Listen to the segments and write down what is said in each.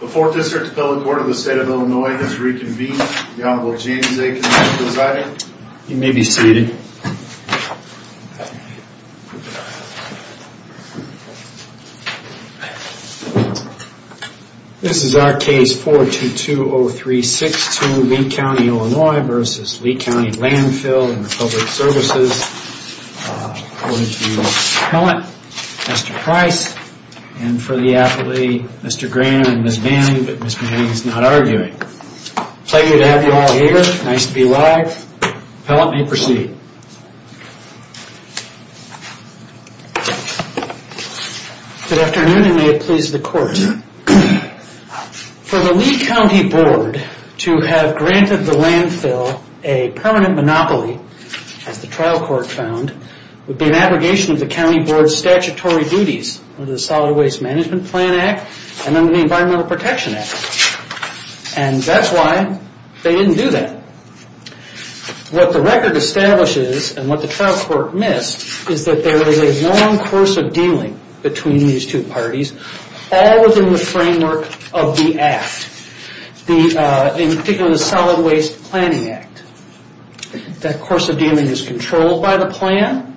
The 4th District Appellate Court of the State of Illinois has reconvened. The Honorable James A. Kinney is presiding. You may be seated. This is our case 422-0362, Lee County, Illinois v. Lee County Landfill and Public Services. We have Mr. Pellant, Mr. Price, and for the appellee, Mr. Grannon and Ms. Manning, but Ms. Manning is not arguing. Pleasure to have you all here. Nice to be live. Pellant, you may proceed. Good afternoon, and may it please the Court. For the Lee County Board to have granted the landfill a permanent monopoly, as the trial court found, would be an abrogation of the county board's statutory duties under the Solid Waste Management Plan Act and under the Environmental Protection Act. And that's why they didn't do that. What the record establishes, and what the trial court missed, is that there is a long course of dealing between these two parties. All within the framework of the act. In particular, the Solid Waste Planning Act. That course of dealing is controlled by the plan,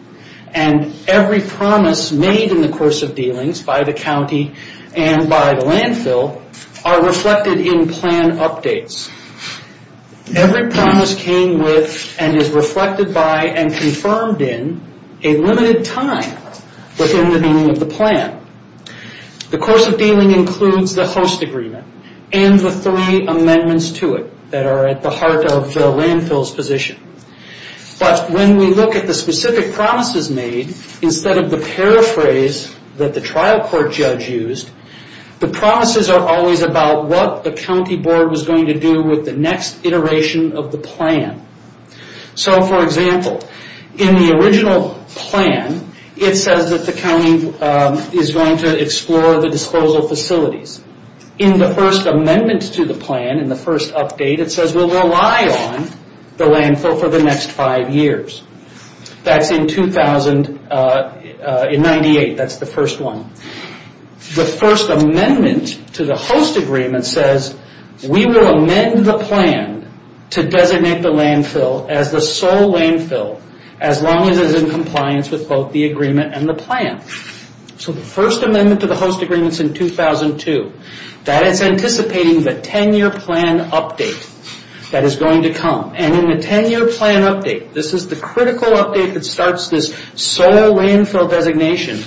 and every promise made in the course of dealings by the county and by the landfill are reflected in plan updates. Every promise came with and is reflected by and confirmed in a limited time within the meaning of the plan. The course of dealing includes the host agreement and the three amendments to it that are at the heart of the landfill's position. But when we look at the specific promises made, instead of the paraphrase that the trial court judge used, the promises are always about what the county board was going to do with the next iteration of the plan. For example, in the original plan, it says that the county is going to explore the disposal facilities. In the first amendment to the plan, in the first update, it says we'll rely on the landfill for the next five years. That's in 1998, that's the first one. The first amendment to the host agreement says, we will amend the plan to designate the landfill as the sole landfill as long as it is in compliance with both the agreement and the plan. The first amendment to the host agreement is in 2002. That is anticipating the 10-year plan update that is going to come. In the 10-year plan update, this is the critical update that starts this sole landfill designation.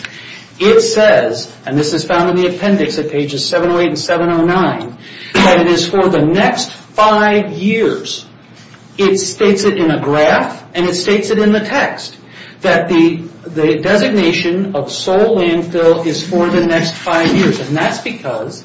It says, and this is found in the appendix at pages 708 and 709, that it is for the next five years. It states it in a graph and it states it in the text that the designation of sole landfill is for the next five years. That's because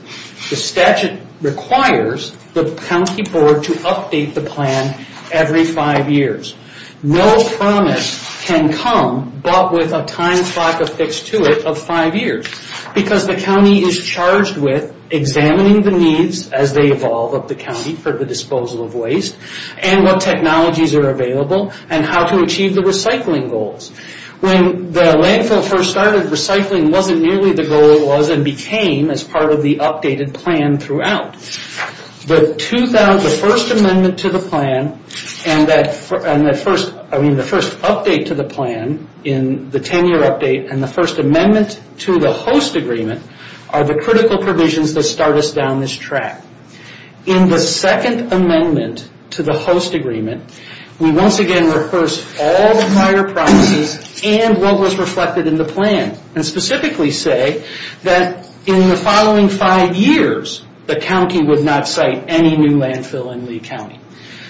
the statute requires the county board to update the plan every five years. No promise can come but with a time clock affixed to it of five years because the county is charged with examining the needs as they evolve up the county for the disposal of waste and what technologies are available and how to achieve the recycling goals. When the landfill first started, recycling wasn't nearly the goal it was and became as part of the updated plan throughout. The first amendment to the plan and the first update to the plan in the 10-year update and the first amendment to the host agreement are the critical provisions that start us down this track. In the second amendment to the host agreement, we once again reverse all prior promises and what was reflected in the plan and specifically say that in the following five years, the county would not cite any new landfill in Lee County.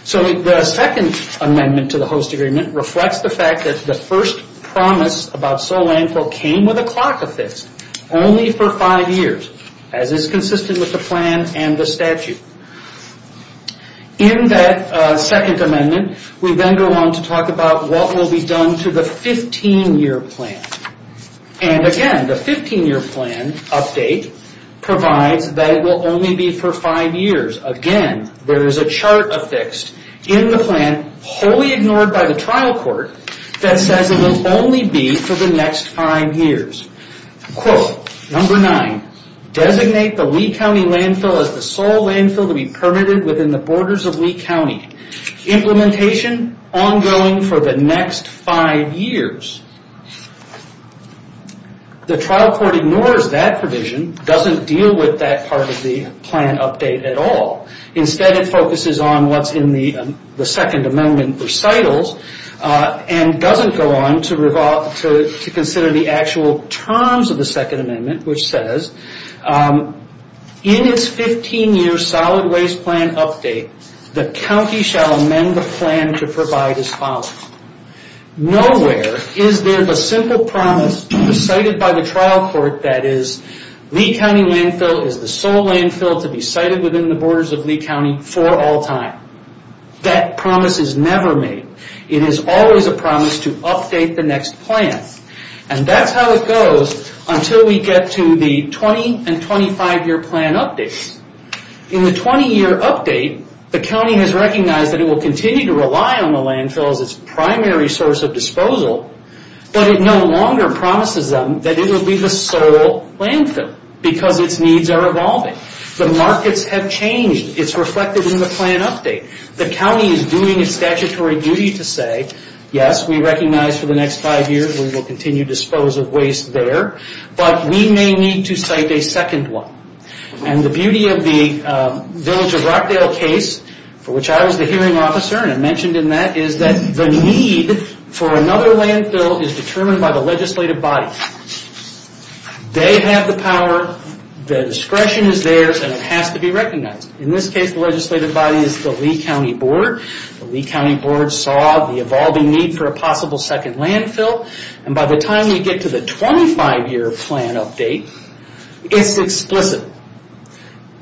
The second amendment to the host agreement reflects the fact that the first promise about sole landfill came with a clock affixed only for five years as is consistent with the plan and the statute. In that second amendment, we then go on to talk about what will be done to the 15-year plan. Again, the 15-year plan update provides that it will only be for five years. Again, there is a chart affixed in the plan, wholly ignored by the trial court, that says it will only be for the next five years. Quote, number nine, designate the Lee County landfill as the sole landfill to be permitted within the borders of Lee County. Implementation ongoing for the next five years. The trial court ignores that provision, doesn't deal with that part of the plan update at all. Instead, it focuses on what's in the second amendment recitals and doesn't go on to consider the actual terms of the second amendment, which says in its 15-year solid waste plan update, the county shall amend the plan to provide as follows. Nowhere is there the simple promise decided by the trial court that is Lee County landfill is the sole landfill to be cited within the borders of Lee County for all time. That promise is never made. It is always a promise to update the next plan. That's how it goes until we get to the 20 and 25-year plan updates. In the 20-year update, the county has recognized that it will continue to rely on the landfill as its primary source of disposal, but it no longer promises them that it will be the sole landfill because its needs are evolving. The markets have changed. It's reflected in the plan update. The county is doing its statutory duty to say, yes, we recognize for the next five years we will continue to dispose of waste there, but we may need to cite a second one. The beauty of the Village of Rockdale case, for which I was the hearing officer and I mentioned in that, is that the need for another landfill is determined by the legislative body. They have the power, the discretion is theirs, and it has to be recognized. In this case, the legislative body is the Lee County Board. The Lee County Board saw the evolving need for a possible second landfill. By the time we get to the 25-year plan update, it's explicit.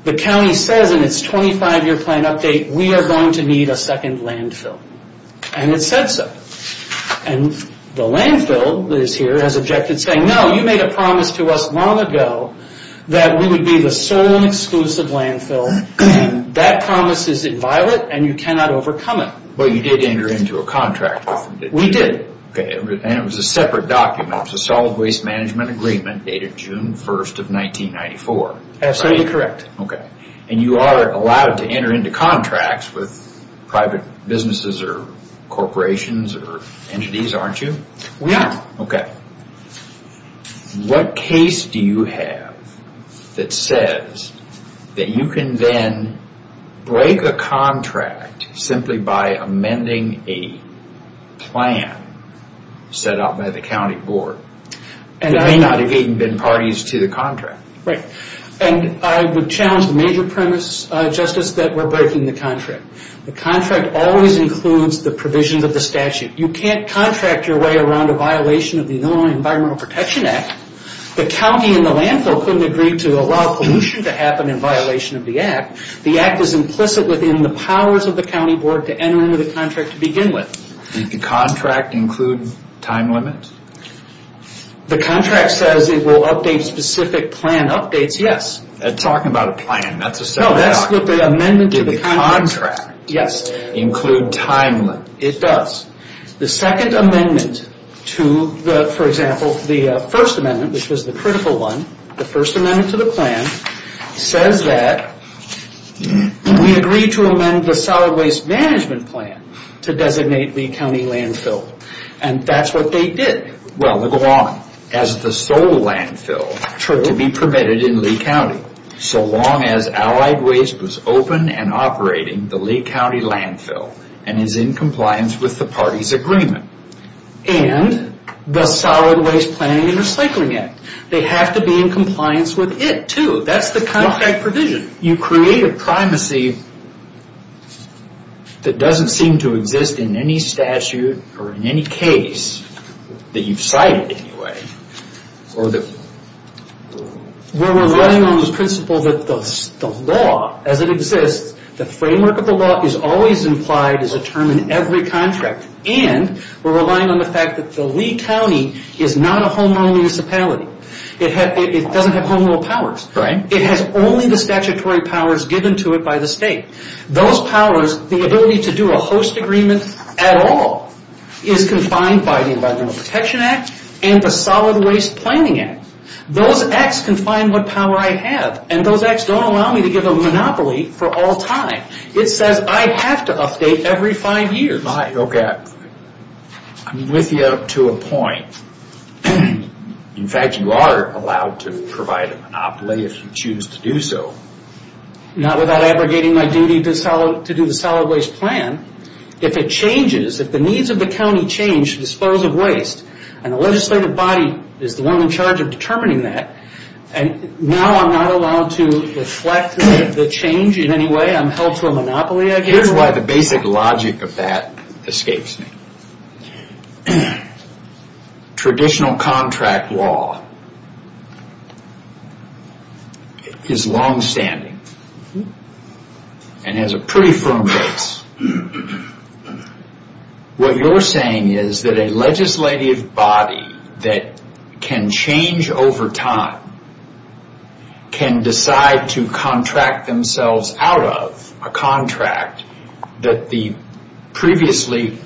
The county says in its 25-year plan update, we are going to need a second landfill. It said so. The landfill that is here has objected saying, no, you made a promise to us long ago that we would be the sole and exclusive landfill. That promise is inviolate and you cannot overcome it. You did enter into a contract with them, didn't you? We did. It was a separate document. It was a solid waste management agreement dated June 1st of 1994. Absolutely correct. You are allowed to enter into contracts with private businesses or corporations or entities, aren't you? We are. What case do you have that says that you can then break a contract simply by amending a plan set up by the county board? There may not have even been parties to the contract. I would challenge the major premise, Justice, that we are breaking the contract. The contract always includes the provisions of the statute. You can't contract your way around a violation of the Illinois Environmental Protection Act. The county and the landfill couldn't agree to allow pollution to happen in violation of the act. The act is implicit within the powers of the county board to enter into the contract to begin with. Did the contract include time limit? The contract says it will update specific plan updates, yes. Talking about a plan, that's a separate document. No, that's with the amendment to the contract. Did the contract include time limit? It does. The second amendment to the, for example, the first amendment, which was the critical one, the first amendment to the plan, says that we agree to amend the solid waste management plan to designate Lee County Landfill. And that's what they did. Well, they go on. As the sole landfill to be permitted in Lee County, so long as allied waste was open and operating the Lee County Landfill and is in compliance with the party's agreement. And the solid waste planning and recycling act. They have to be in compliance with it, too. That's the contract provision. You create a primacy that doesn't seem to exist in any statute or in any case that you've cited, anyway. We're relying on the principle that the law, as it exists, the framework of the law is always implied as a term in every contract. And we're relying on the fact that the Lee County is not a homerun municipality. It doesn't have homerun powers. It has only the statutory powers given to it by the state. Those powers, the ability to do a host agreement at all, is confined by the Environmental Protection Act and the Solid Waste Planning Act. Those acts confine what power I have. And those acts don't allow me to give a monopoly for all time. It says I have to update every five years. Okay. I'm with you up to a point. In fact, you are allowed to provide a monopoly if you choose to do so. Not without abrogating my duty to do the solid waste plan. If it changes, if the needs of the county change to dispose of waste, and the legislative body is the one in charge of determining that, now I'm not allowed to reflect the change in any way? I'm held to a monopoly, I guess? Here's why the basic logic of that escapes me. Traditional contract law is longstanding and has a pretty firm base. What you're saying is that a legislative body that can change over time can decide to contract themselves out of a contract that the previously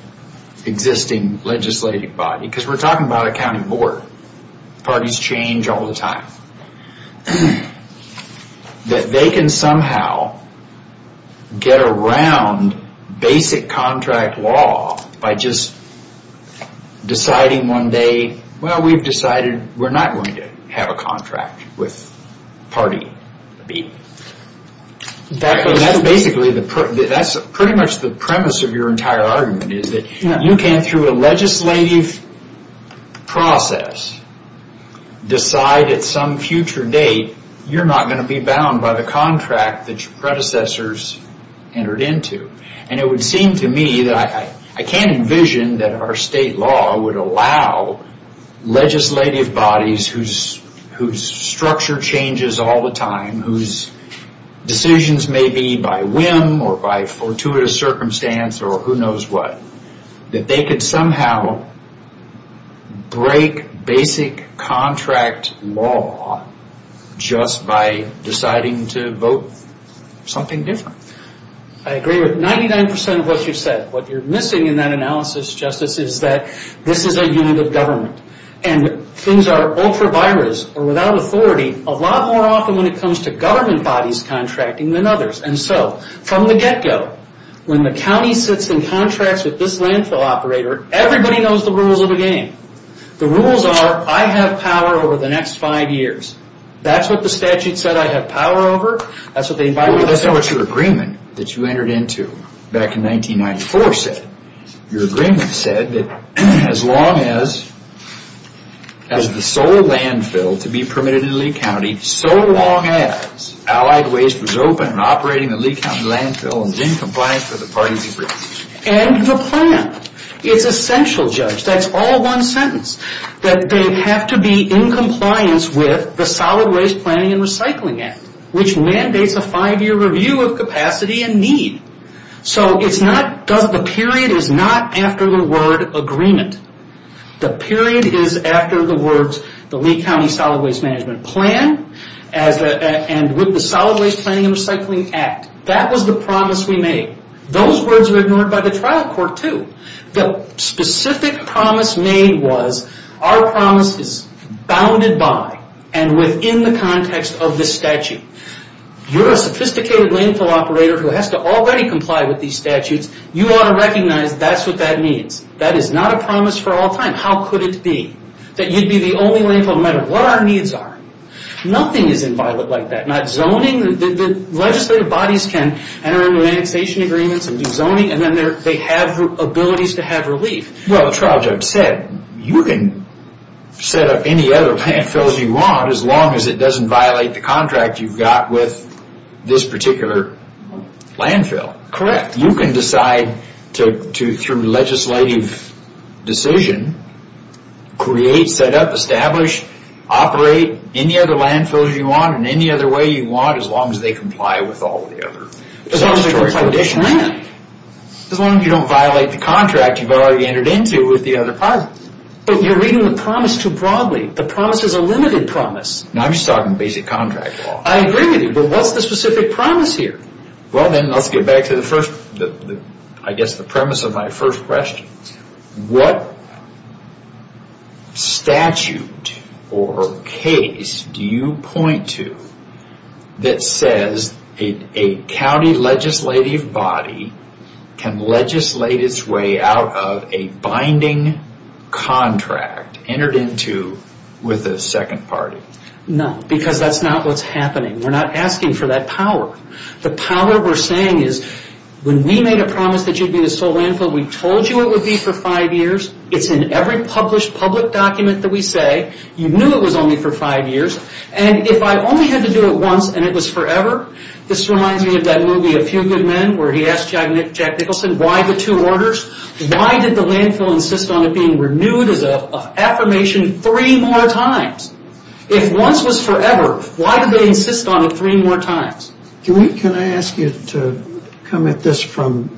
existing legislative body, because we're talking about a county board. Parties change all the time. That they can somehow get around basic contract law by just deciding one day, well, we've decided we're not going to have a contract with party B. That's pretty much the premise of your entire argument, is that you can, through a legislative process, decide at some future date you're not going to be bound by the contract that your predecessors entered into. And it would seem to me that I can't envision that our state law would allow legislative bodies whose structure changes all the time, whose decisions may be by whim or by fortuitous circumstance or who knows what, that they could somehow break basic contract law just by deciding to vote something different. I agree with 99% of what you said. What you're missing in that analysis, Justice, is that this is a unit of government. And things are ultra-virus or without authority a lot more often when it comes to government bodies contracting than others. And so, from the get-go, when the county sits in contracts with this landfill operator, everybody knows the rules of the game. The rules are, I have power over the next five years. That's what the statute said I have power over. That's not what your agreement that you entered into back in 1994 said. Your agreement said that as long as the sole landfill to be permitted in Lee County, so long as Allied Waste was open and operating in Lee County landfill and was in compliance with the parties agreed to. And the plan. It's essential, Judge. That's all one sentence. That they have to be in compliance with the Solid Waste Planning and Recycling Act, which mandates a five-year review of capacity and need. So the period is not after the word agreement. The period is after the words the Lee County Solid Waste Management Plan and with the Solid Waste Planning and Recycling Act. That was the promise we made. Those words were ignored by the trial court, too. The specific promise made was our promise is bounded by and within the context of the statute. You're a sophisticated landfill operator who has to already comply with these statutes. You ought to recognize that's what that means. That is not a promise for all time. How could it be? That you'd be the only landfill no matter what our needs are. Nothing is inviolate like that. They have abilities to have relief. As the trial judge said, you can set up any other landfills you want as long as it doesn't violate the contract you've got with this particular landfill. Correct. You can decide through legislative decision, create, set up, establish, operate any other landfills you want in any other way you want as long as they comply with all the other statutory conditions. As long as they comply with this plan. As long as you don't violate the contract you've already entered into with the other parties. But you're reading the promise too broadly. The promise is a limited promise. I'm just talking basic contract law. I agree with you, but what's the specific promise here? Well, then, let's get back to the premise of my first question. What statute or case do you point to that says a county legislative body can legislate its way out of a binding contract entered into with a second party? No, because that's not what's happening. We're not asking for that power. The power we're saying is when we made a promise that you'd be the sole landfill, we told you it would be for five years. It's in every published public document that we say. You knew it was only for five years. And if I only had to do it once and it was forever, this reminds me of that movie, A Few Good Men, where he asked Jack Nicholson, why the two orders? Why did the landfill insist on it being renewed as an affirmation three more times? If once was forever, why did they insist on it three more times? Can I ask you to come at this from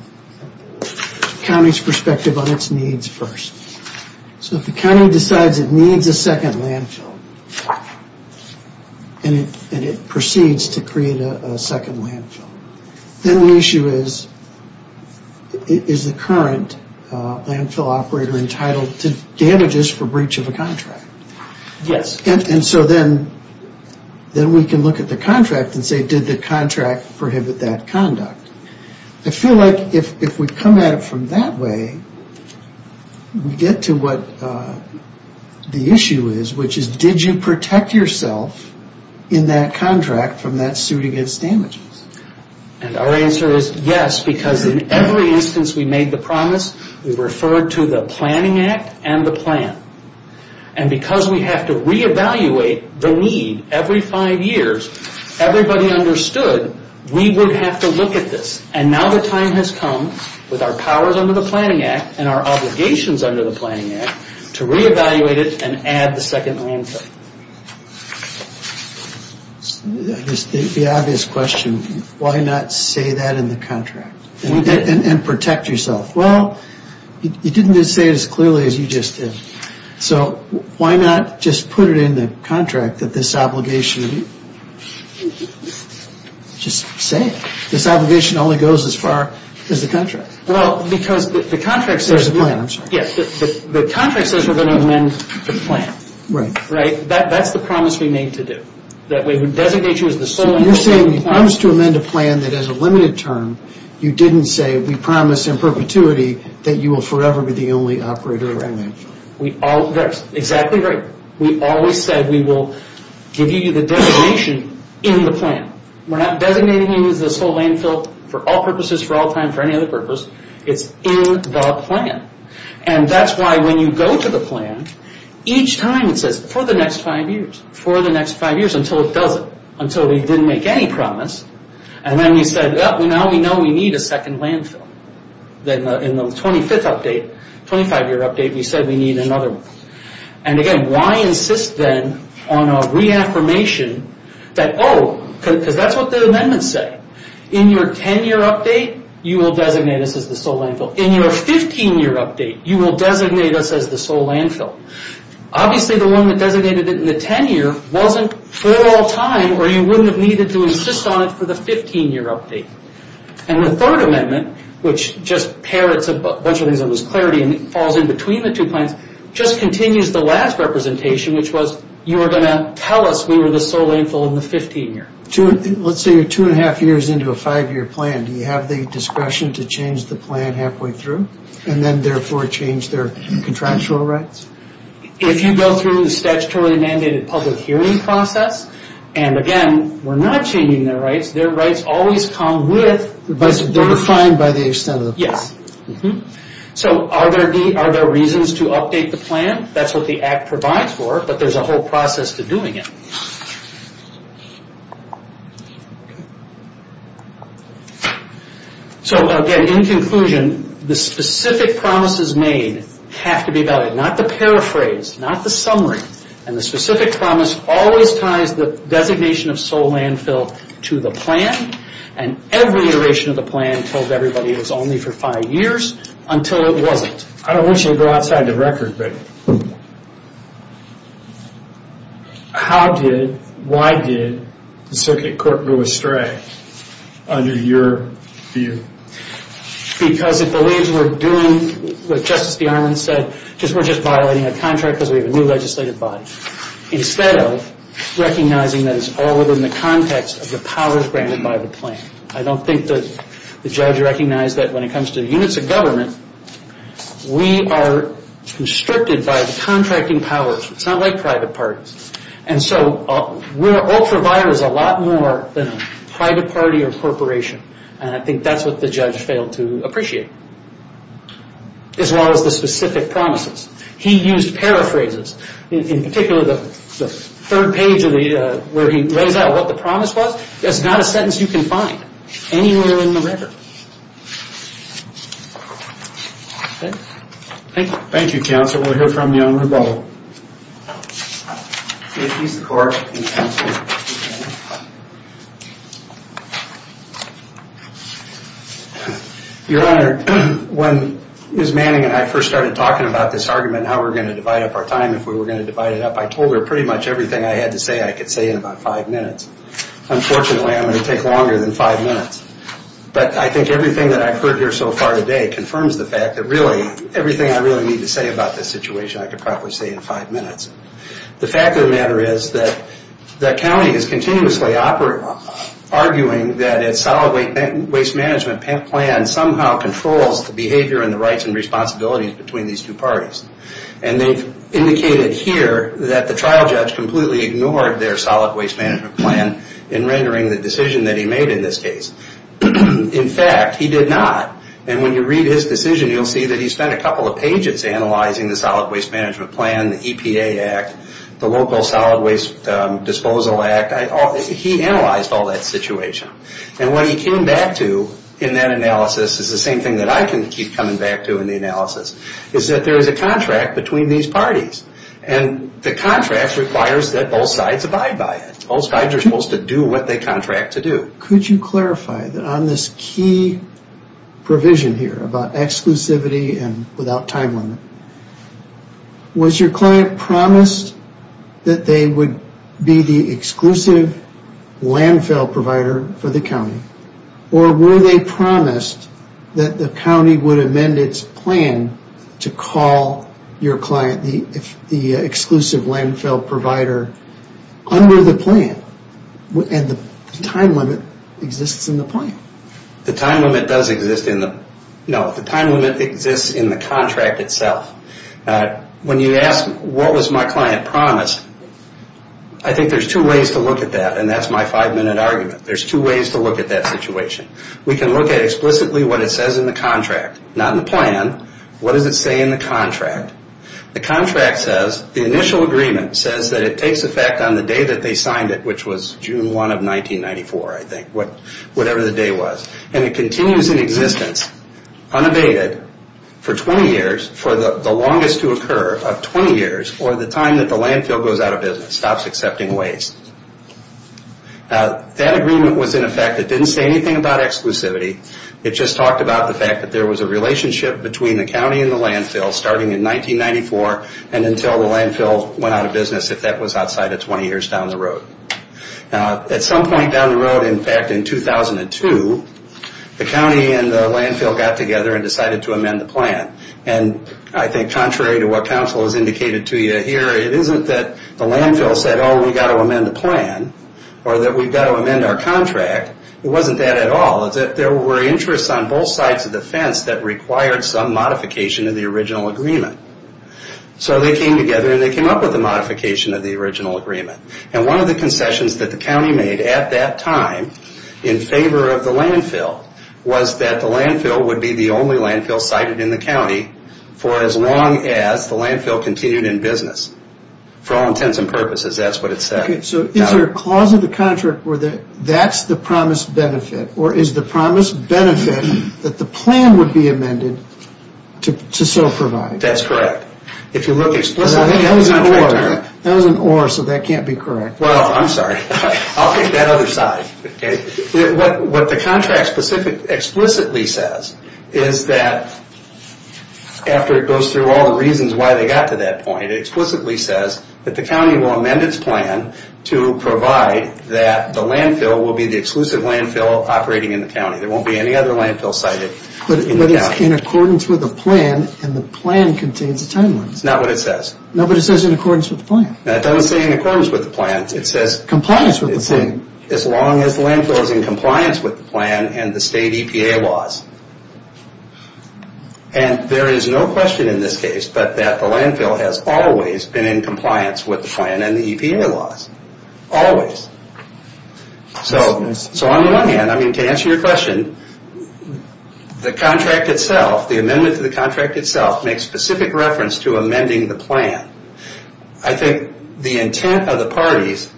the county's perspective on its needs first? So if the county decides it needs a second landfill and it proceeds to create a second landfill, then the issue is, is the current landfill operator entitled to damages for breach of a contract? Yes. And so then we can look at the contract and say, did the contract prohibit that conduct? I feel like if we come at it from that way, we get to what the issue is, which is did you protect yourself in that contract from that suit against damages? And our answer is yes, because in every instance we made the promise, we referred to the planning act and the plan. And because we have to reevaluate the need every five years, everybody understood we would have to look at this. And now the time has come with our powers under the planning act and our obligations under the planning act to reevaluate it and add the second landfill. The obvious question, why not say that in the contract and protect yourself? Well, you didn't say it as clearly as you just did. So why not just put it in the contract that this obligation, just say it. This obligation only goes as far as the contract. Well, because the contract says we're going to amend the plan. Right. That's the promise we made to do. That we would designate you as the sole owner of the land. So you're saying when it comes to amend a plan that has a limited term, you didn't say we promise in perpetuity that you will forever be the only operator. That's exactly right. We always said we will give you the designation in the plan. We're not designating you as the sole landfill for all purposes, for all time, for any other purpose. It's in the plan. And that's why when you go to the plan, each time it says for the next five years, for the next five years until it does it, until we didn't make any promise. And then we said, now we know we need a second landfill. Then in the 25th update, 25-year update, we said we need another one. And again, why insist then on a reaffirmation that, oh, because that's what the amendments say. In your 10-year update, you will designate us as the sole landfill. In your 15-year update, you will designate us as the sole landfill. Obviously the one that designated it in the 10-year wasn't for all time, or you wouldn't have needed to insist on it for the 15-year update. And the third amendment, which just parrots a bunch of things that was clarity and falls in between the two plans, just continues the last representation, which was you were going to tell us we were the sole landfill in the 15-year. Let's say you're two and a half years into a five-year plan. Do you have the discretion to change the plan halfway through, and then therefore change their contractual rights? If you go through the statutorily mandated public hearing process, and again, we're not changing their rights. Their rights always come with... They're defined by the extent of the plan. Yes. Are there reasons to update the plan? That's what the Act provides for, but there's a whole process to doing it. Again, in conclusion, the specific promises made have to be valid. Not the paraphrase, not the summary. And the specific promise always ties the designation of sole landfill to the plan. And every iteration of the plan told everybody it was only for five years, until it wasn't. I don't want you to go outside the record, but how did, why did, the circuit court go astray under your view? Because it believes we're doing what Justice DeArmond said. We're just violating a contract because we have a new legislative body. Instead of recognizing that it's all within the context of the powers granted by the plan. I don't think the judge recognized that when it comes to units of government, we are constricted by the contracting powers. It's not like private parties. And so we're ultra-vires a lot more than a private party or corporation. And I think that's what the judge failed to appreciate. As well as the specific promises. He used paraphrases. In particular, the third page where he lays out what the promise was, that's not a sentence you can find anywhere in the record. Thank you. Thank you, counsel. We'll hear from you on rebuttal. He's the court. Your Honor, when Ms. Manning and I first started talking about this argument, how we're going to divide up our time if we were going to divide it up, I told her pretty much everything I had to say I could say in about five minutes. Unfortunately, I'm going to take longer than five minutes. But I think everything that I've heard here so far today confirms the fact that really, everything I really need to say about this situation, I could probably say in five minutes. The fact of the matter is that the county is continuously arguing that its solid waste management plan somehow controls the behavior and the rights and responsibilities between these two parties. And they've indicated here that the trial judge completely ignored their solid waste management plan in rendering the decision that he made in this case. In fact, he did not. And when you read his decision, you'll see that he spent a couple of pages analyzing the solid waste management plan, the EPA Act, the Local Solid Waste Disposal Act. He analyzed all that situation. And what he came back to in that analysis is the same thing that I can keep coming back to in the analysis, is that there is a contract between these parties. And the contract requires that both sides abide by it. Both sides are supposed to do what they contract to do. Could you clarify that on this key provision here about exclusivity and without time limit, was your client promised that they would be the exclusive landfill provider for the county? Or were they promised that the county would amend its plan to call your client the exclusive landfill provider under the plan? And the time limit exists in the plan. The time limit does exist in the... No, the time limit exists in the contract itself. When you ask what was my client promised, I think there's two ways to look at that, and that's my five-minute argument. There's two ways to look at that situation. We can look at explicitly what it says in the contract. Not in the plan. What does it say in the contract? The contract says, the initial agreement says that it takes effect on the day that they signed it, which was June 1 of 1994, I think, whatever the day was. And it continues in existence, unabated, for 20 years, for the longest to occur of 20 years, or the time that the landfill goes out of business, stops accepting waste. That agreement was in effect. It didn't say anything about exclusivity. It just talked about the fact that there was a relationship between the county and the landfill starting in 1994 and until the landfill went out of business, if that was outside of 20 years down the road. At some point down the road, in fact, in 2002, the county and the landfill got together and decided to amend the plan. And I think contrary to what counsel has indicated to you here, it isn't that the landfill said, oh, we've got to amend the plan, or that we've got to amend our contract. It wasn't that at all. It's that there were interests on both sides of the fence that required some modification of the original agreement. So they came together and they came up with a modification of the original agreement. And one of the concessions that the county made at that time, in favor of the landfill, was that the landfill would be the only landfill sited in the county for as long as the landfill continued in business. For all intents and purposes, that's what it said. So is there a clause of the contract where that's the promised benefit, or is the promised benefit that the plan would be amended to so provide? That's correct. If you look explicitly at the contract... That was an or, so that can't be correct. Well, I'm sorry. I'll take that other side. What the contract explicitly says is that, after it goes through all the reasons why they got to that point, it explicitly says that the county will amend its plan to provide that the landfill will be the exclusive landfill operating in the county. There won't be any other landfill sited in the county. But it's in accordance with the plan, and the plan contains a time limit. That's not what it says. No, but it says in accordance with the plan. That doesn't say in accordance with the plan. It says... Compliance with the plan. As long as the landfill is in compliance with the plan and the state EPA laws. And there is no question in this case that the landfill has always been in compliance with the plan and the EPA laws. Always. So on the one hand, I mean, to answer your question, the contract itself, the amendment to the contract itself, makes specific reference to amending the plan. I think the intent of the parties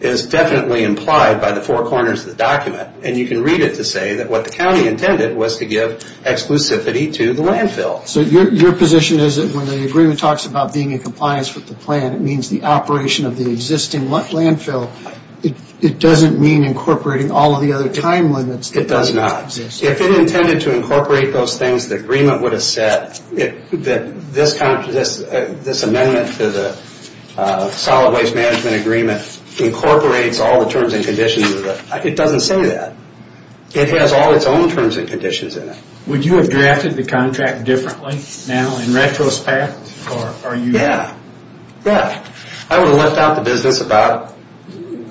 is definitely implied by the four corners of the document. And you can read it to say that what the county intended was to give exclusivity to the landfill. So your position is that when the agreement talks about being in compliance with the plan, it means the operation of the existing landfill. It doesn't mean incorporating all of the other time limits. It does not. If it intended to incorporate those things, the agreement would have said that this amendment to the solid waste management agreement incorporates all the terms and conditions of the... It doesn't say that. It has all its own terms and conditions in it. Would you have drafted the contract differently now, in retrospect? Yeah. I would have left out the business about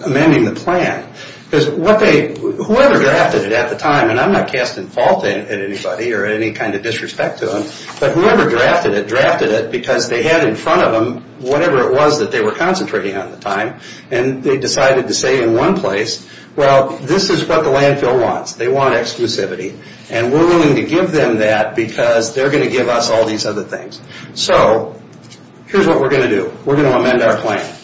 amending the plan. Because whoever drafted it at the time, and I'm not casting fault at anybody or any kind of disrespect to them, but whoever drafted it, drafted it because they had in front of them whatever it was that they were concentrating on at the time. And they decided to say in one place, well, this is what the landfill wants. They want exclusivity. And we're willing to give them that because they're going to give us all these other things. So here's what we're going to do. We're going to amend our plan.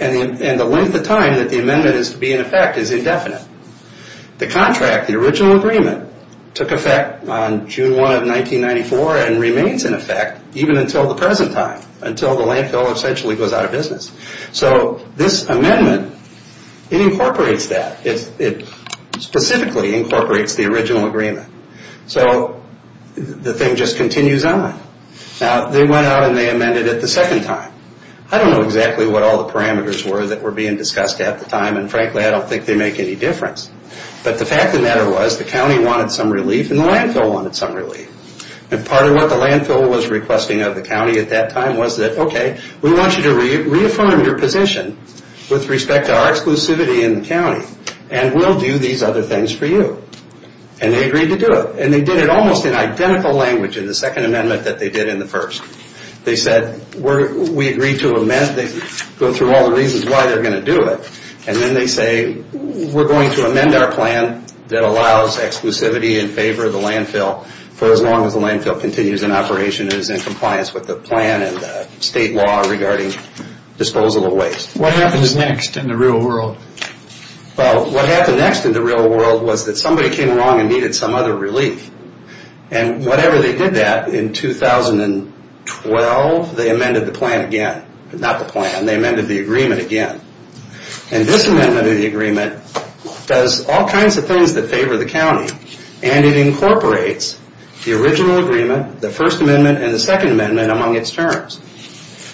And the length of time that the amendment is to be in effect is indefinite. The contract, the original agreement, took effect on June 1 of 1994 and remains in effect even until the present time, until the landfill essentially goes out of business. So this amendment, it incorporates that. It specifically incorporates the original agreement. So the thing just continues on. Now, they went out and they amended it the second time. I don't know exactly what all the parameters were that were being discussed at the time, and frankly, I don't think they make any difference. But the fact of the matter was the county wanted some relief and the landfill wanted some relief. And part of what the landfill was requesting of the county at that time was that, okay, we want you to reaffirm your position with respect to our exclusivity in the county, and we'll do these other things for you. And they agreed to do it. And they did it almost in identical language in the second amendment that they did in the first. They said, we agree to amend. They go through all the reasons why they're going to do it. And then they say, we're going to amend our plan that allows exclusivity in favor of the landfill for as long as the landfill continues in operation and is in compliance with the plan and the state law regarding disposable waste. What happens next in the real world? Well, what happened next in the real world was that somebody came along and needed some other relief. And whenever they did that in 2012, they amended the plan again. Not the plan, they amended the agreement again. And this amendment of the agreement does all kinds of things that favor the county. And it incorporates the original agreement, the first amendment, and the second amendment among its terms.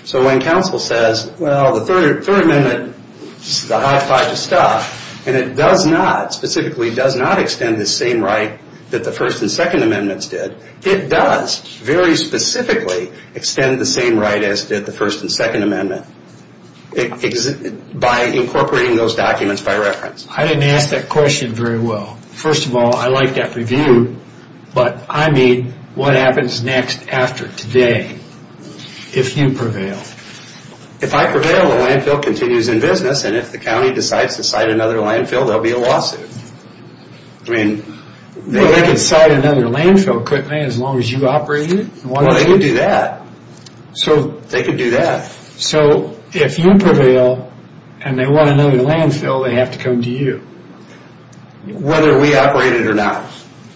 So when council says, well, the third amendment, this is a hot pot of stuff, and it does not, specifically does not extend the same right that the first and second amendments did, it does very specifically extend the same right as did the first and second amendment by incorporating those documents by reference. I didn't ask that question very well. First of all, I like that review. But I mean, what happens next after today, if you prevail? If I prevail, the landfill continues in business, and if the county decides to site another landfill, there will be a lawsuit. Well, they could site another landfill quickly as long as you operate it. Well, they could do that. They could do that. So if you prevail, and they want another landfill, they have to come to you. Whether we operate it or not.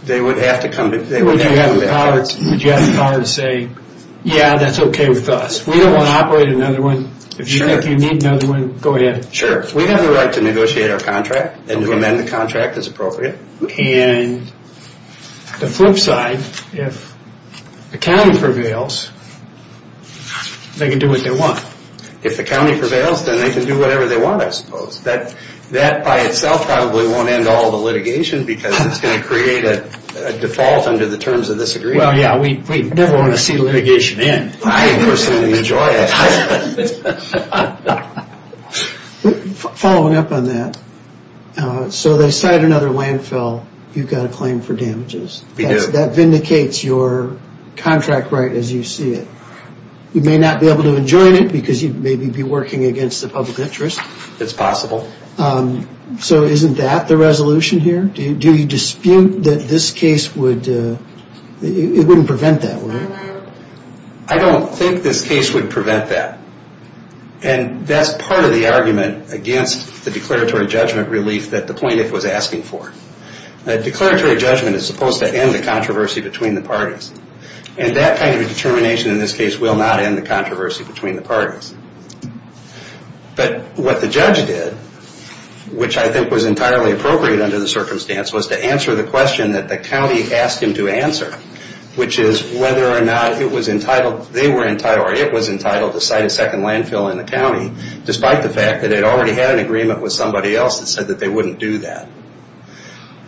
They would have to come to you. Would you have the power to say, yeah, that's okay with us. We don't want to operate another one. If you need another one, go ahead. Sure. We have the right to negotiate our contract and to amend the contract as appropriate. And the flip side, if the county prevails, they can do what they want. If the county prevails, then they can do whatever they want, I suppose. That by itself probably won't end all the litigation because it's going to create a default under the terms of this agreement. Well, yeah, we never want to see litigation end. I personally enjoy it. Following up on that, so they site another landfill, you've got a claim for damages. That vindicates your contract right as you see it. You may not be able to enjoin it because you may be working against the public interest. It's possible. So isn't that the resolution here? Do you dispute that this case would... it wouldn't prevent that, would it? I don't think this case would prevent that. And that's part of the argument against the declaratory judgment relief that the plaintiff was asking for. A declaratory judgment is supposed to end the controversy between the parties. And that kind of a determination in this case will not end the controversy between the parties. But what the judge did, which I think was entirely appropriate under the circumstance, was to answer the question that the county asked him to answer, which is whether or not it was entitled... they were entitled or it was entitled to site a second landfill in the county despite the fact that it already had an agreement with somebody else that said that they wouldn't do that.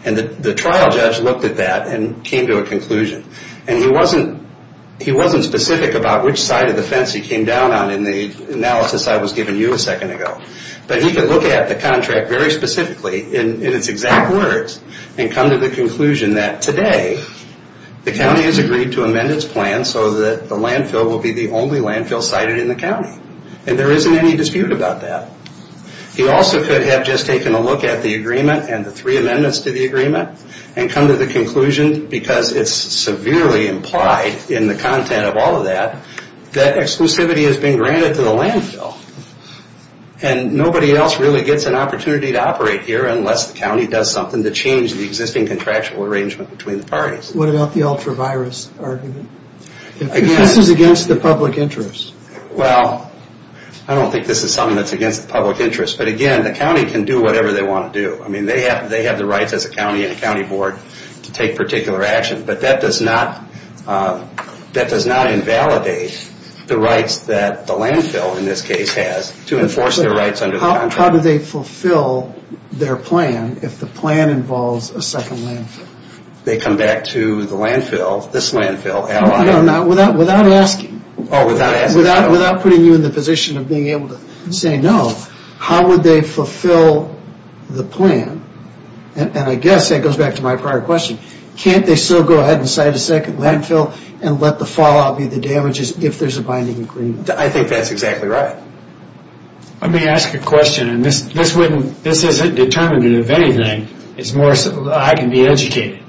And the trial judge looked at that and came to a conclusion. And he wasn't specific about which side of the fence he came down on in the analysis I was giving you a second ago. But he could look at the contract very specifically in its exact words and come to the conclusion that today the county has agreed to amend its plan so that the landfill will be the only landfill sited in the county. And there isn't any dispute about that. He also could have just taken a look at the agreement and the three amendments to the agreement and come to the conclusion, because it's severely implied in the content of all of that, that exclusivity has been granted to the landfill. And nobody else really gets an opportunity to operate here unless the county does something to change the existing contractual arrangement between the parties. What about the ultra-virus argument? This is against the public interest. Well, I don't think this is something that's against the public interest. But again, the county can do whatever they want to do. I mean, they have the rights as a county and a county board to take particular action. But that does not invalidate the rights that the landfill in this case has to enforce their rights under the contract. How do they fulfill their plan if the plan involves a second landfill? They come back to the landfill, this landfill. Without asking. Without putting you in the position of being able to say no. How would they fulfill the plan? And I guess that goes back to my prior question. Can't they still go ahead and cite a second landfill and let the fallout be the damages if there's a binding agreement? I think that's exactly right. Let me ask a question. And this isn't determinant of anything. I can be educated.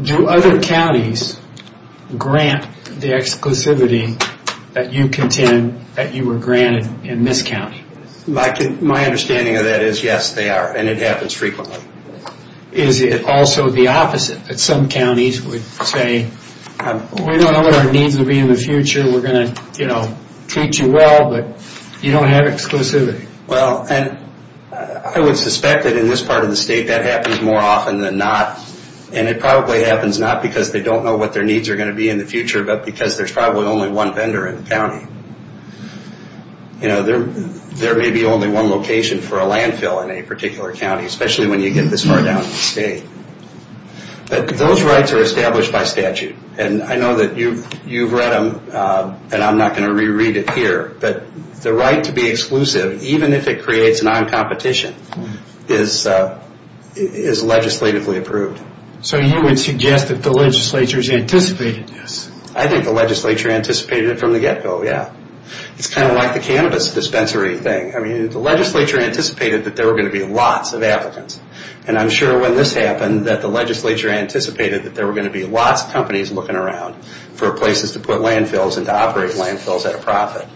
Do other counties grant the exclusivity that you contend that you were granted in this county? My understanding of that is yes, they are. And it happens frequently. Is it also the opposite? Some counties would say, we don't know what our needs will be in the future. We're going to treat you well, but you don't have exclusivity. Well, I would suspect that in this part of the state that happens more often than not. And it probably happens not because they don't know what their needs are going to be in the future, but because there's probably only one vendor in the county. There may be only one location for a landfill in a particular county. Especially when you get this far down in the state. But those rights are established by statute. And I know that you've read them, and I'm not going to reread it here, but the right to be exclusive, even if it creates non-competition, is legislatively approved. So you would suggest that the legislature's anticipated this? I think the legislature anticipated it from the get-go, yeah. It's kind of like the cannabis dispensary thing. I mean, the legislature anticipated that there were going to be lots of applicants. And I'm sure when this happened, that the legislature anticipated that there were going to be lots of companies looking around for places to put landfills and to operate landfills at a profit.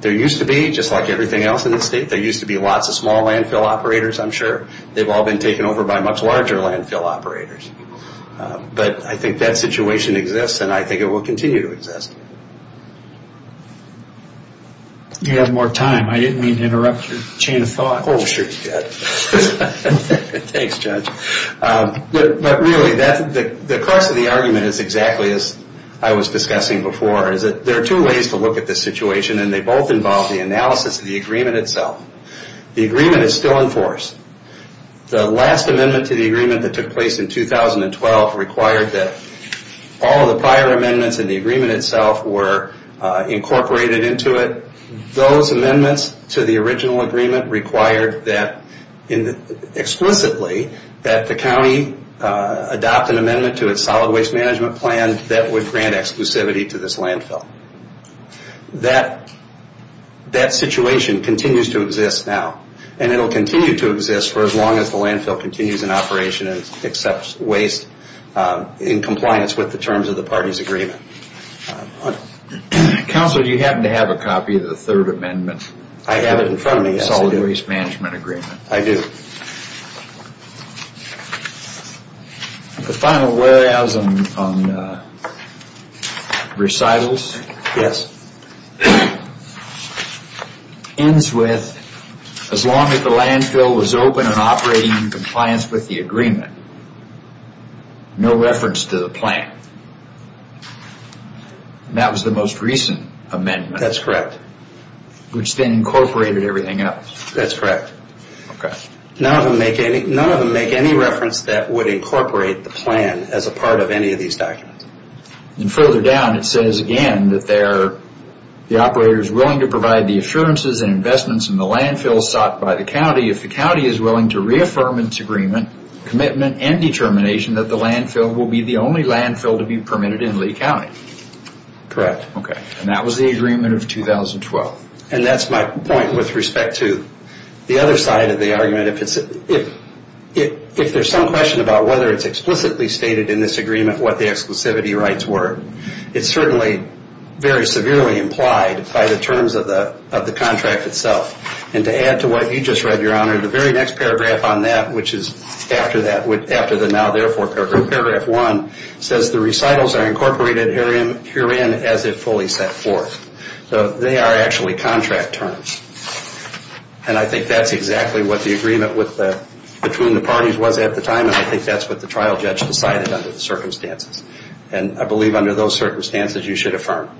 There used to be, just like everything else in the state, there used to be lots of small landfill operators, I'm sure. They've all been taken over by much larger landfill operators. But I think that situation exists, and I think it will continue to exist. You have more time. I didn't mean to interrupt your chain of thought. Oh, sure you did. Thanks, Judge. But really, the crux of the argument is exactly as I was discussing before, is that there are two ways to look at this situation, and they both involve the analysis of the agreement itself. The agreement is still in force. The last amendment to the agreement that took place in 2012 required that all of the prior amendments in the agreement itself were incorporated into it. Those amendments to the original agreement required explicitly that the county adopt an amendment to its solid waste management plan that would grant exclusivity to this landfill. That situation continues to exist now, and it will continue to exist for as long as the landfill continues in operation and accepts waste in compliance with the terms of the party's agreement. Counsel, do you happen to have a copy of the third amendment? I have it in front of me, yes, I do. Solid waste management agreement. I do. The final whereas on recitals? Yes. Ends with, as long as the landfill was open and operating in compliance with the agreement, no reference to the plan. That was the most recent amendment. That's correct. Which then incorporated everything else. That's correct. Okay. None of them make any reference that would incorporate the plan as a part of any of these documents. Further down, it says again that the operator is willing to provide the assurances and investments in the landfill sought by the county commitment, and determination that the landfill will be the only landfill to be permitted in Lee County. Correct. Okay. And that was the agreement of 2012. And that's my point with respect to the other side of the argument. If there's some question about whether it's explicitly stated in this agreement what the exclusivity rights were, it's certainly very severely implied by the terms of the contract itself. And to add to what you just read, Your Honor, the very next paragraph on that, which is after the now therefore paragraph one, says the recitals are incorporated herein as if fully set forth. So they are actually contract terms. And I think that's exactly what the agreement between the parties was at the time, and I think that's what the trial judge decided under the circumstances. And I believe under those circumstances you should affirm.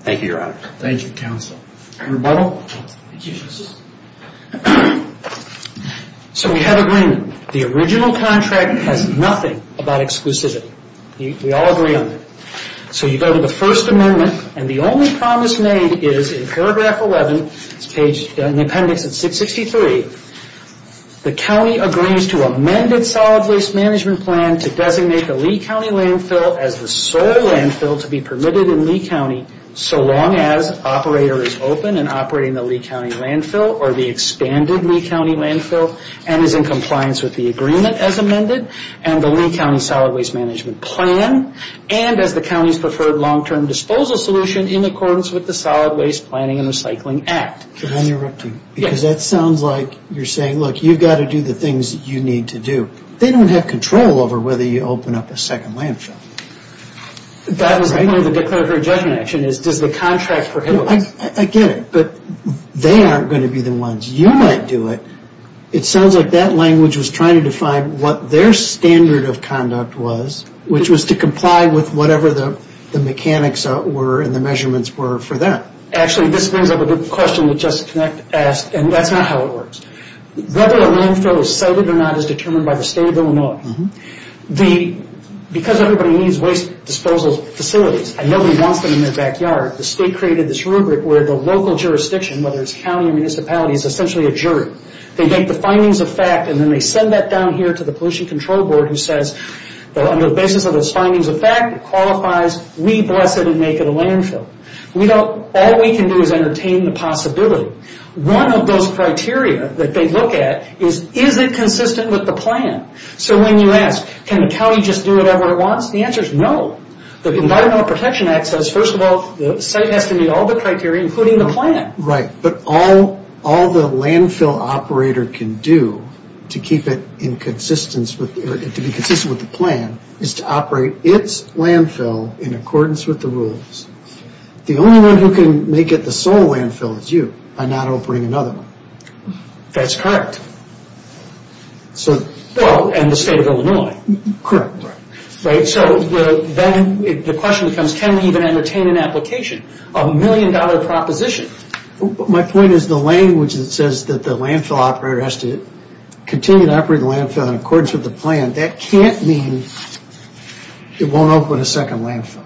Thank you, Your Honor. Thank you, counsel. Rebuttal? Rebuttal. Thank you, Justice. So we have agreement. The original contract has nothing about exclusivity. We all agree on that. So you go to the First Amendment, and the only promise made is in paragraph 11, it's in the appendix at 663, the county agrees to amended solid waste management plan to designate the Lee County landfill as the sole landfill to be permitted in Lee County so long as operator is open and operating the Lee County landfill or the expanded Lee County landfill and is in compliance with the agreement as amended and the Lee County solid waste management plan and as the county's preferred long-term disposal solution in accordance with the Solid Waste Planning and Recycling Act. Can I interrupt you? Yes. Because that sounds like you're saying, look, you've got to do the things you need to do. They don't have control over whether you open up a second landfill. That was part of the declaratory judgment action, is does the contract prohibit it? I get it, but they aren't going to be the ones. You might do it. It sounds like that language was trying to define what their standard of conduct was, which was to comply with whatever the mechanics were and the measurements were for them. Actually, this brings up a good question that Justice Connick asked, and that's not how it works. Whether a landfill is sited or not is determined by the state of Illinois. Because everybody needs waste disposal facilities and nobody wants them in their backyard, the state created this rubric where the local jurisdiction, whether it's county or municipality, is essentially a jury. They get the findings of fact and then they send that down here to the Pollution Control Board who says, on the basis of those findings of fact, it qualifies. We bless it and make it a landfill. All we can do is entertain the possibility. One of those criteria that they look at is, is it consistent with the plan? When you ask, can the county just do whatever it wants? The answer is no. The Environmental Protection Act says, first of all, the site has to meet all the criteria, including the plan. Right, but all the landfill operator can do to be consistent with the plan is to operate its landfill in accordance with the rules. The only one who can make it the sole landfill is you by not opening another one. That's correct. Well, and the state of Illinois. Correct. Then the question becomes, can we even entertain an application, a million dollar proposition? My point is the language that says that the landfill operator has to continue to operate the landfill in accordance with the plan, that can't mean it won't open a second landfill.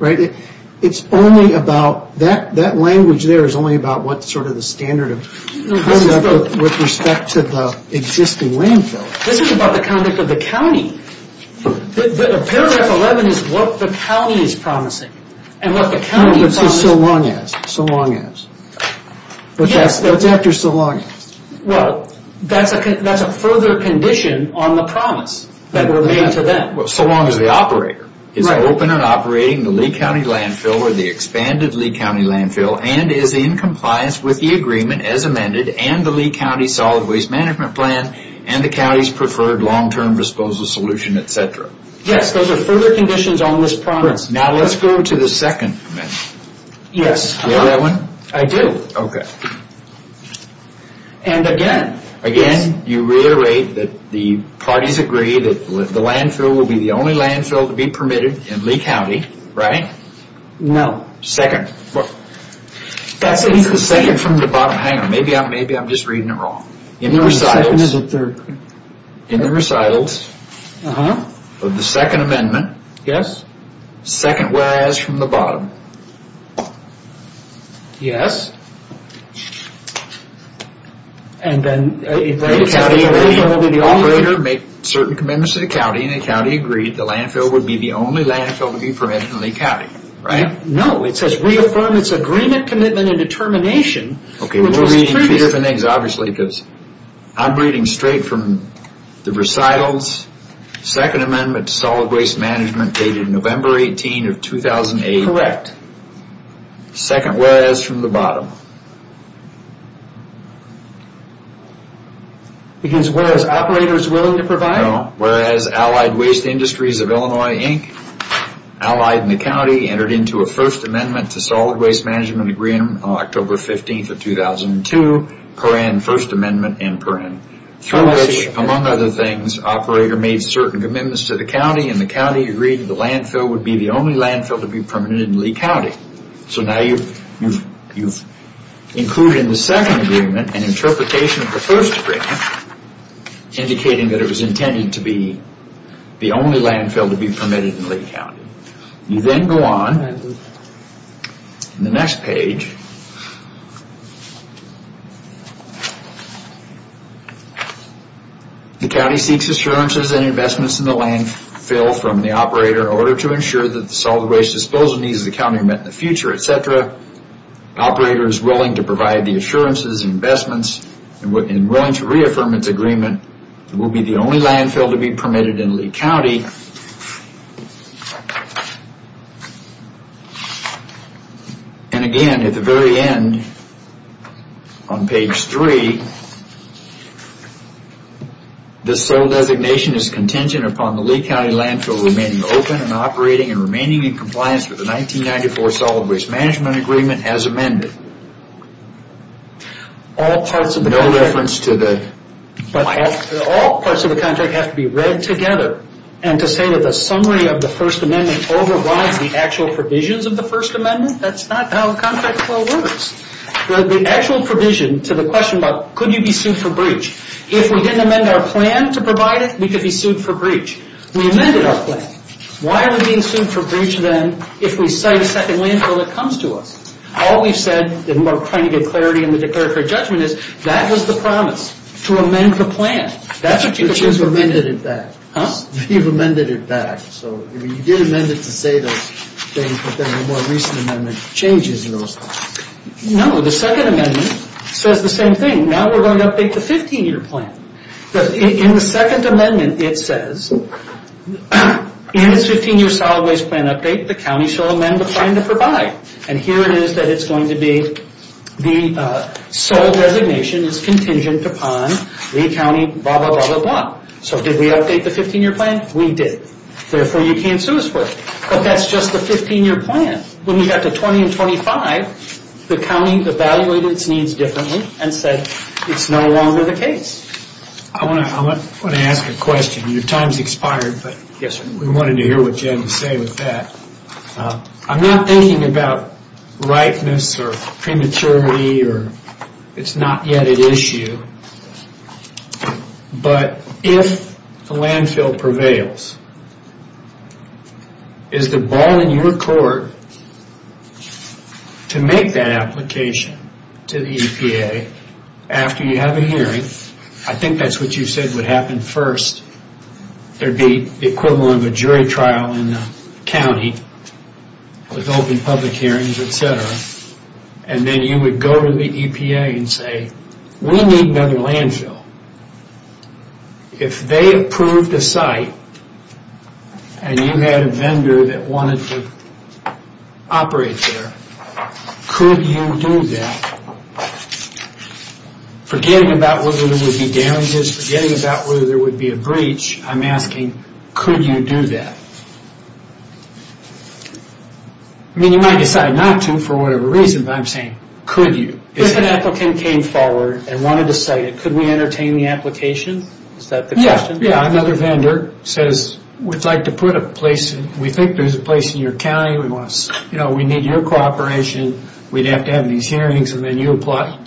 Right? It's only about, that language there is only about what sort of the standard of conduct with respect to the existing landfill. This is about the conduct of the county. Paragraph 11 is what the county is promising. And what the county promised. So long as. So long as. Yes. That's after so long as. Well, that's a further condition on the promise that were made to them. So long as the operator is open and operating the Lee County Landfill or the expanded Lee County Landfill and is in compliance with the agreement as amended and the Lee County Solid Waste Management Plan and the county's preferred long term disposal solution, etc. Yes, those are further conditions on this promise. Now let's go to the second amendment. Yes. Do you have that one? I do. Okay. And again. Again, you reiterate that the parties agree that the landfill will be the only landfill to be permitted in Lee County. Right? No. Second. That's the second from the bottom. Hang on. Maybe I'm just reading it wrong. In the recitals. The second is the third. In the recitals of the second amendment. Yes. Second whereas from the bottom. Yes. And then. If the operator makes certain commitments to the county and the county agreed the landfill would be the only landfill to be permitted in Lee County. Right? No. It says reaffirm its agreement, commitment, and determination. Okay. We're reading two different things obviously because I'm reading straight from the recitals. Second amendment to solid waste management dated November 18 of 2008. Correct. Yes. Second whereas from the bottom. Because whereas operator is willing to provide. No. Whereas Allied Waste Industries of Illinois Inc., allied in the county, entered into a first amendment to solid waste management agreement on October 15 of 2002, first amendment in print. Through which, among other things, operator made certain commitments to the county and the county agreed the landfill would be the only landfill to be permitted in Lee County. So now you've included in the second agreement an interpretation of the first agreement indicating that it was intended to be the only landfill to be permitted in Lee County. You then go on to the next page. The county seeks assurances and investments in the landfill from the operator in order to ensure that the solid waste disposal needs of the county are met in the future, etc. Operator is willing to provide the assurances and investments and willing to reaffirm its agreement it will be the only landfill to be permitted in Lee County. And again, at the very end on page three, the sole designation is contingent upon the Lee County landfill remaining open and operating and remaining in compliance with the 1994 solid waste management agreement as amended. All parts of the contract have to be read together. And to say that the summary of the first amendment overrides the actual provisions of the first amendment, that's not how contract flow works. The actual provision to the question about could you be sued for breach, if we didn't amend our plan to provide it, we could be sued for breach. We amended our plan. Why are we being sued for breach then if we cite a second landfill that comes to us? All we've said, and we're trying to give clarity in the declaratory judgment, is that was the promise, to amend the plan. But you've amended it back. Huh? You've amended it back. So you did amend it to say those things, but then the more recent amendment changes those things. No, the second amendment says the same thing. Now we're going to update the 15-year plan. In the second amendment it says, in this 15-year solid waste plan update the county shall amend the plan to provide. And here it is that it's going to be the sole designation is contingent upon Lee County, blah, blah, blah, blah, blah. So did we update the 15-year plan? We did. Therefore, you can't sue us for it. But that's just the 15-year plan. When we got to 20 and 25, the county evaluated its needs differently and said it's no longer the case. I want to ask a question. Your time's expired, but we wanted to hear what Jen would say with that. I'm not thinking about ripeness or prematurity or it's not yet an issue, but if the landfill prevails, is the ball in your court to make that application to the EPA after you have a hearing? I think that's what you said would happen first. There'd be the equivalent of a jury trial in the county with open public hearings, et cetera. And then you would go to the EPA and say, we need another landfill. If they approved the site and you had a vendor that wanted to operate there, could you do that? Forgetting about whether there would be damages, forgetting about whether there would be a breach, I'm asking, could you do that? I mean, you might decide not to for whatever reason, but I'm saying, could you? If an applicant came forward and wanted to site it, could we entertain the application? Is that the question? Yeah. Another vendor says, we'd like to put a place. We think there's a place in your county. We need your cooperation. We'd have to have these hearings, and then you talk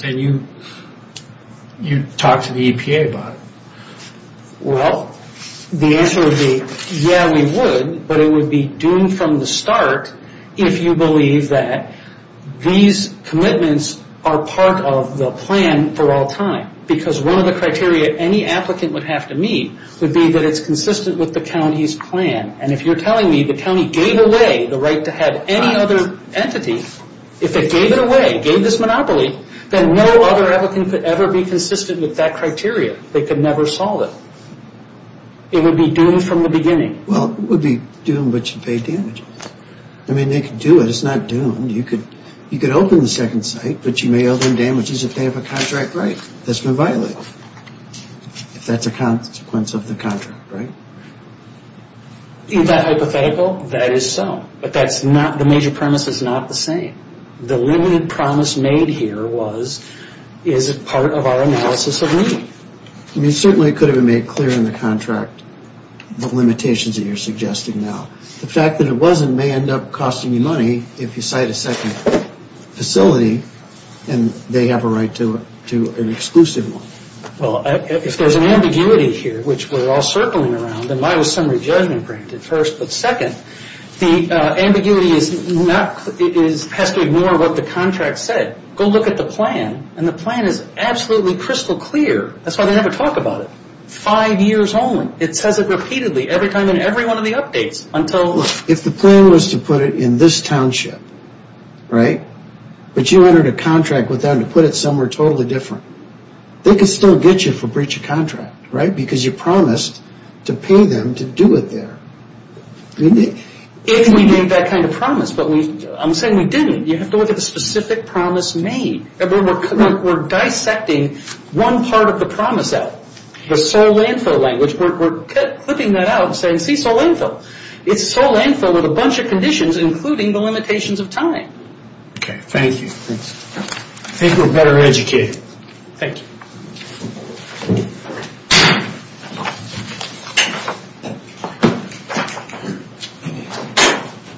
to the EPA about it. Well, the answer would be, yeah, we would, but it would be doomed from the start if you believe that these commitments are part of the plan for all time. Because one of the criteria any applicant would have to meet would be that it's consistent with the county's plan. And if you're telling me the county gave away the right to have any other entity, if they gave it away, gave this monopoly, then no other applicant could ever be consistent with that criteria. They could never solve it. It would be doomed from the beginning. Well, it would be doomed, but you'd pay damages. I mean, they could do it. It's not doomed. You could open the second site, but you may owe them damages if they have a contract right that's been violated, if that's a consequence of the contract, right? Is that hypothetical? That is so, but the major premise is not the same. The limited promise made here was, is it part of our analysis agreement? I mean, certainly it could have been made clear in the contract the limitations that you're suggesting now. The fact that it wasn't may end up costing you money if you site a second facility and they have a right to an exclusive one. Well, if there's an ambiguity here, which we're all circling around, then why was summary judgment granted first? But second, the ambiguity has to ignore what the contract said. Go look at the plan, and the plan is absolutely crystal clear. That's why they never talk about it. Five years only. It says it repeatedly every time in every one of the updates until... If the plan was to put it in this township, right? But you entered a contract with them to put it somewhere totally different. They could still get you for breach of contract, right? Because you promised to pay them to do it there. If we made that kind of promise, but I'm saying we didn't. You have to look at the specific promise made. We're dissecting one part of the promise out. The sole landfill language. We're clipping that out and saying, see, sole landfill. It's sole landfill with a bunch of conditions, including the limitations of time. Okay, thank you. I think we're better educated. Thank you.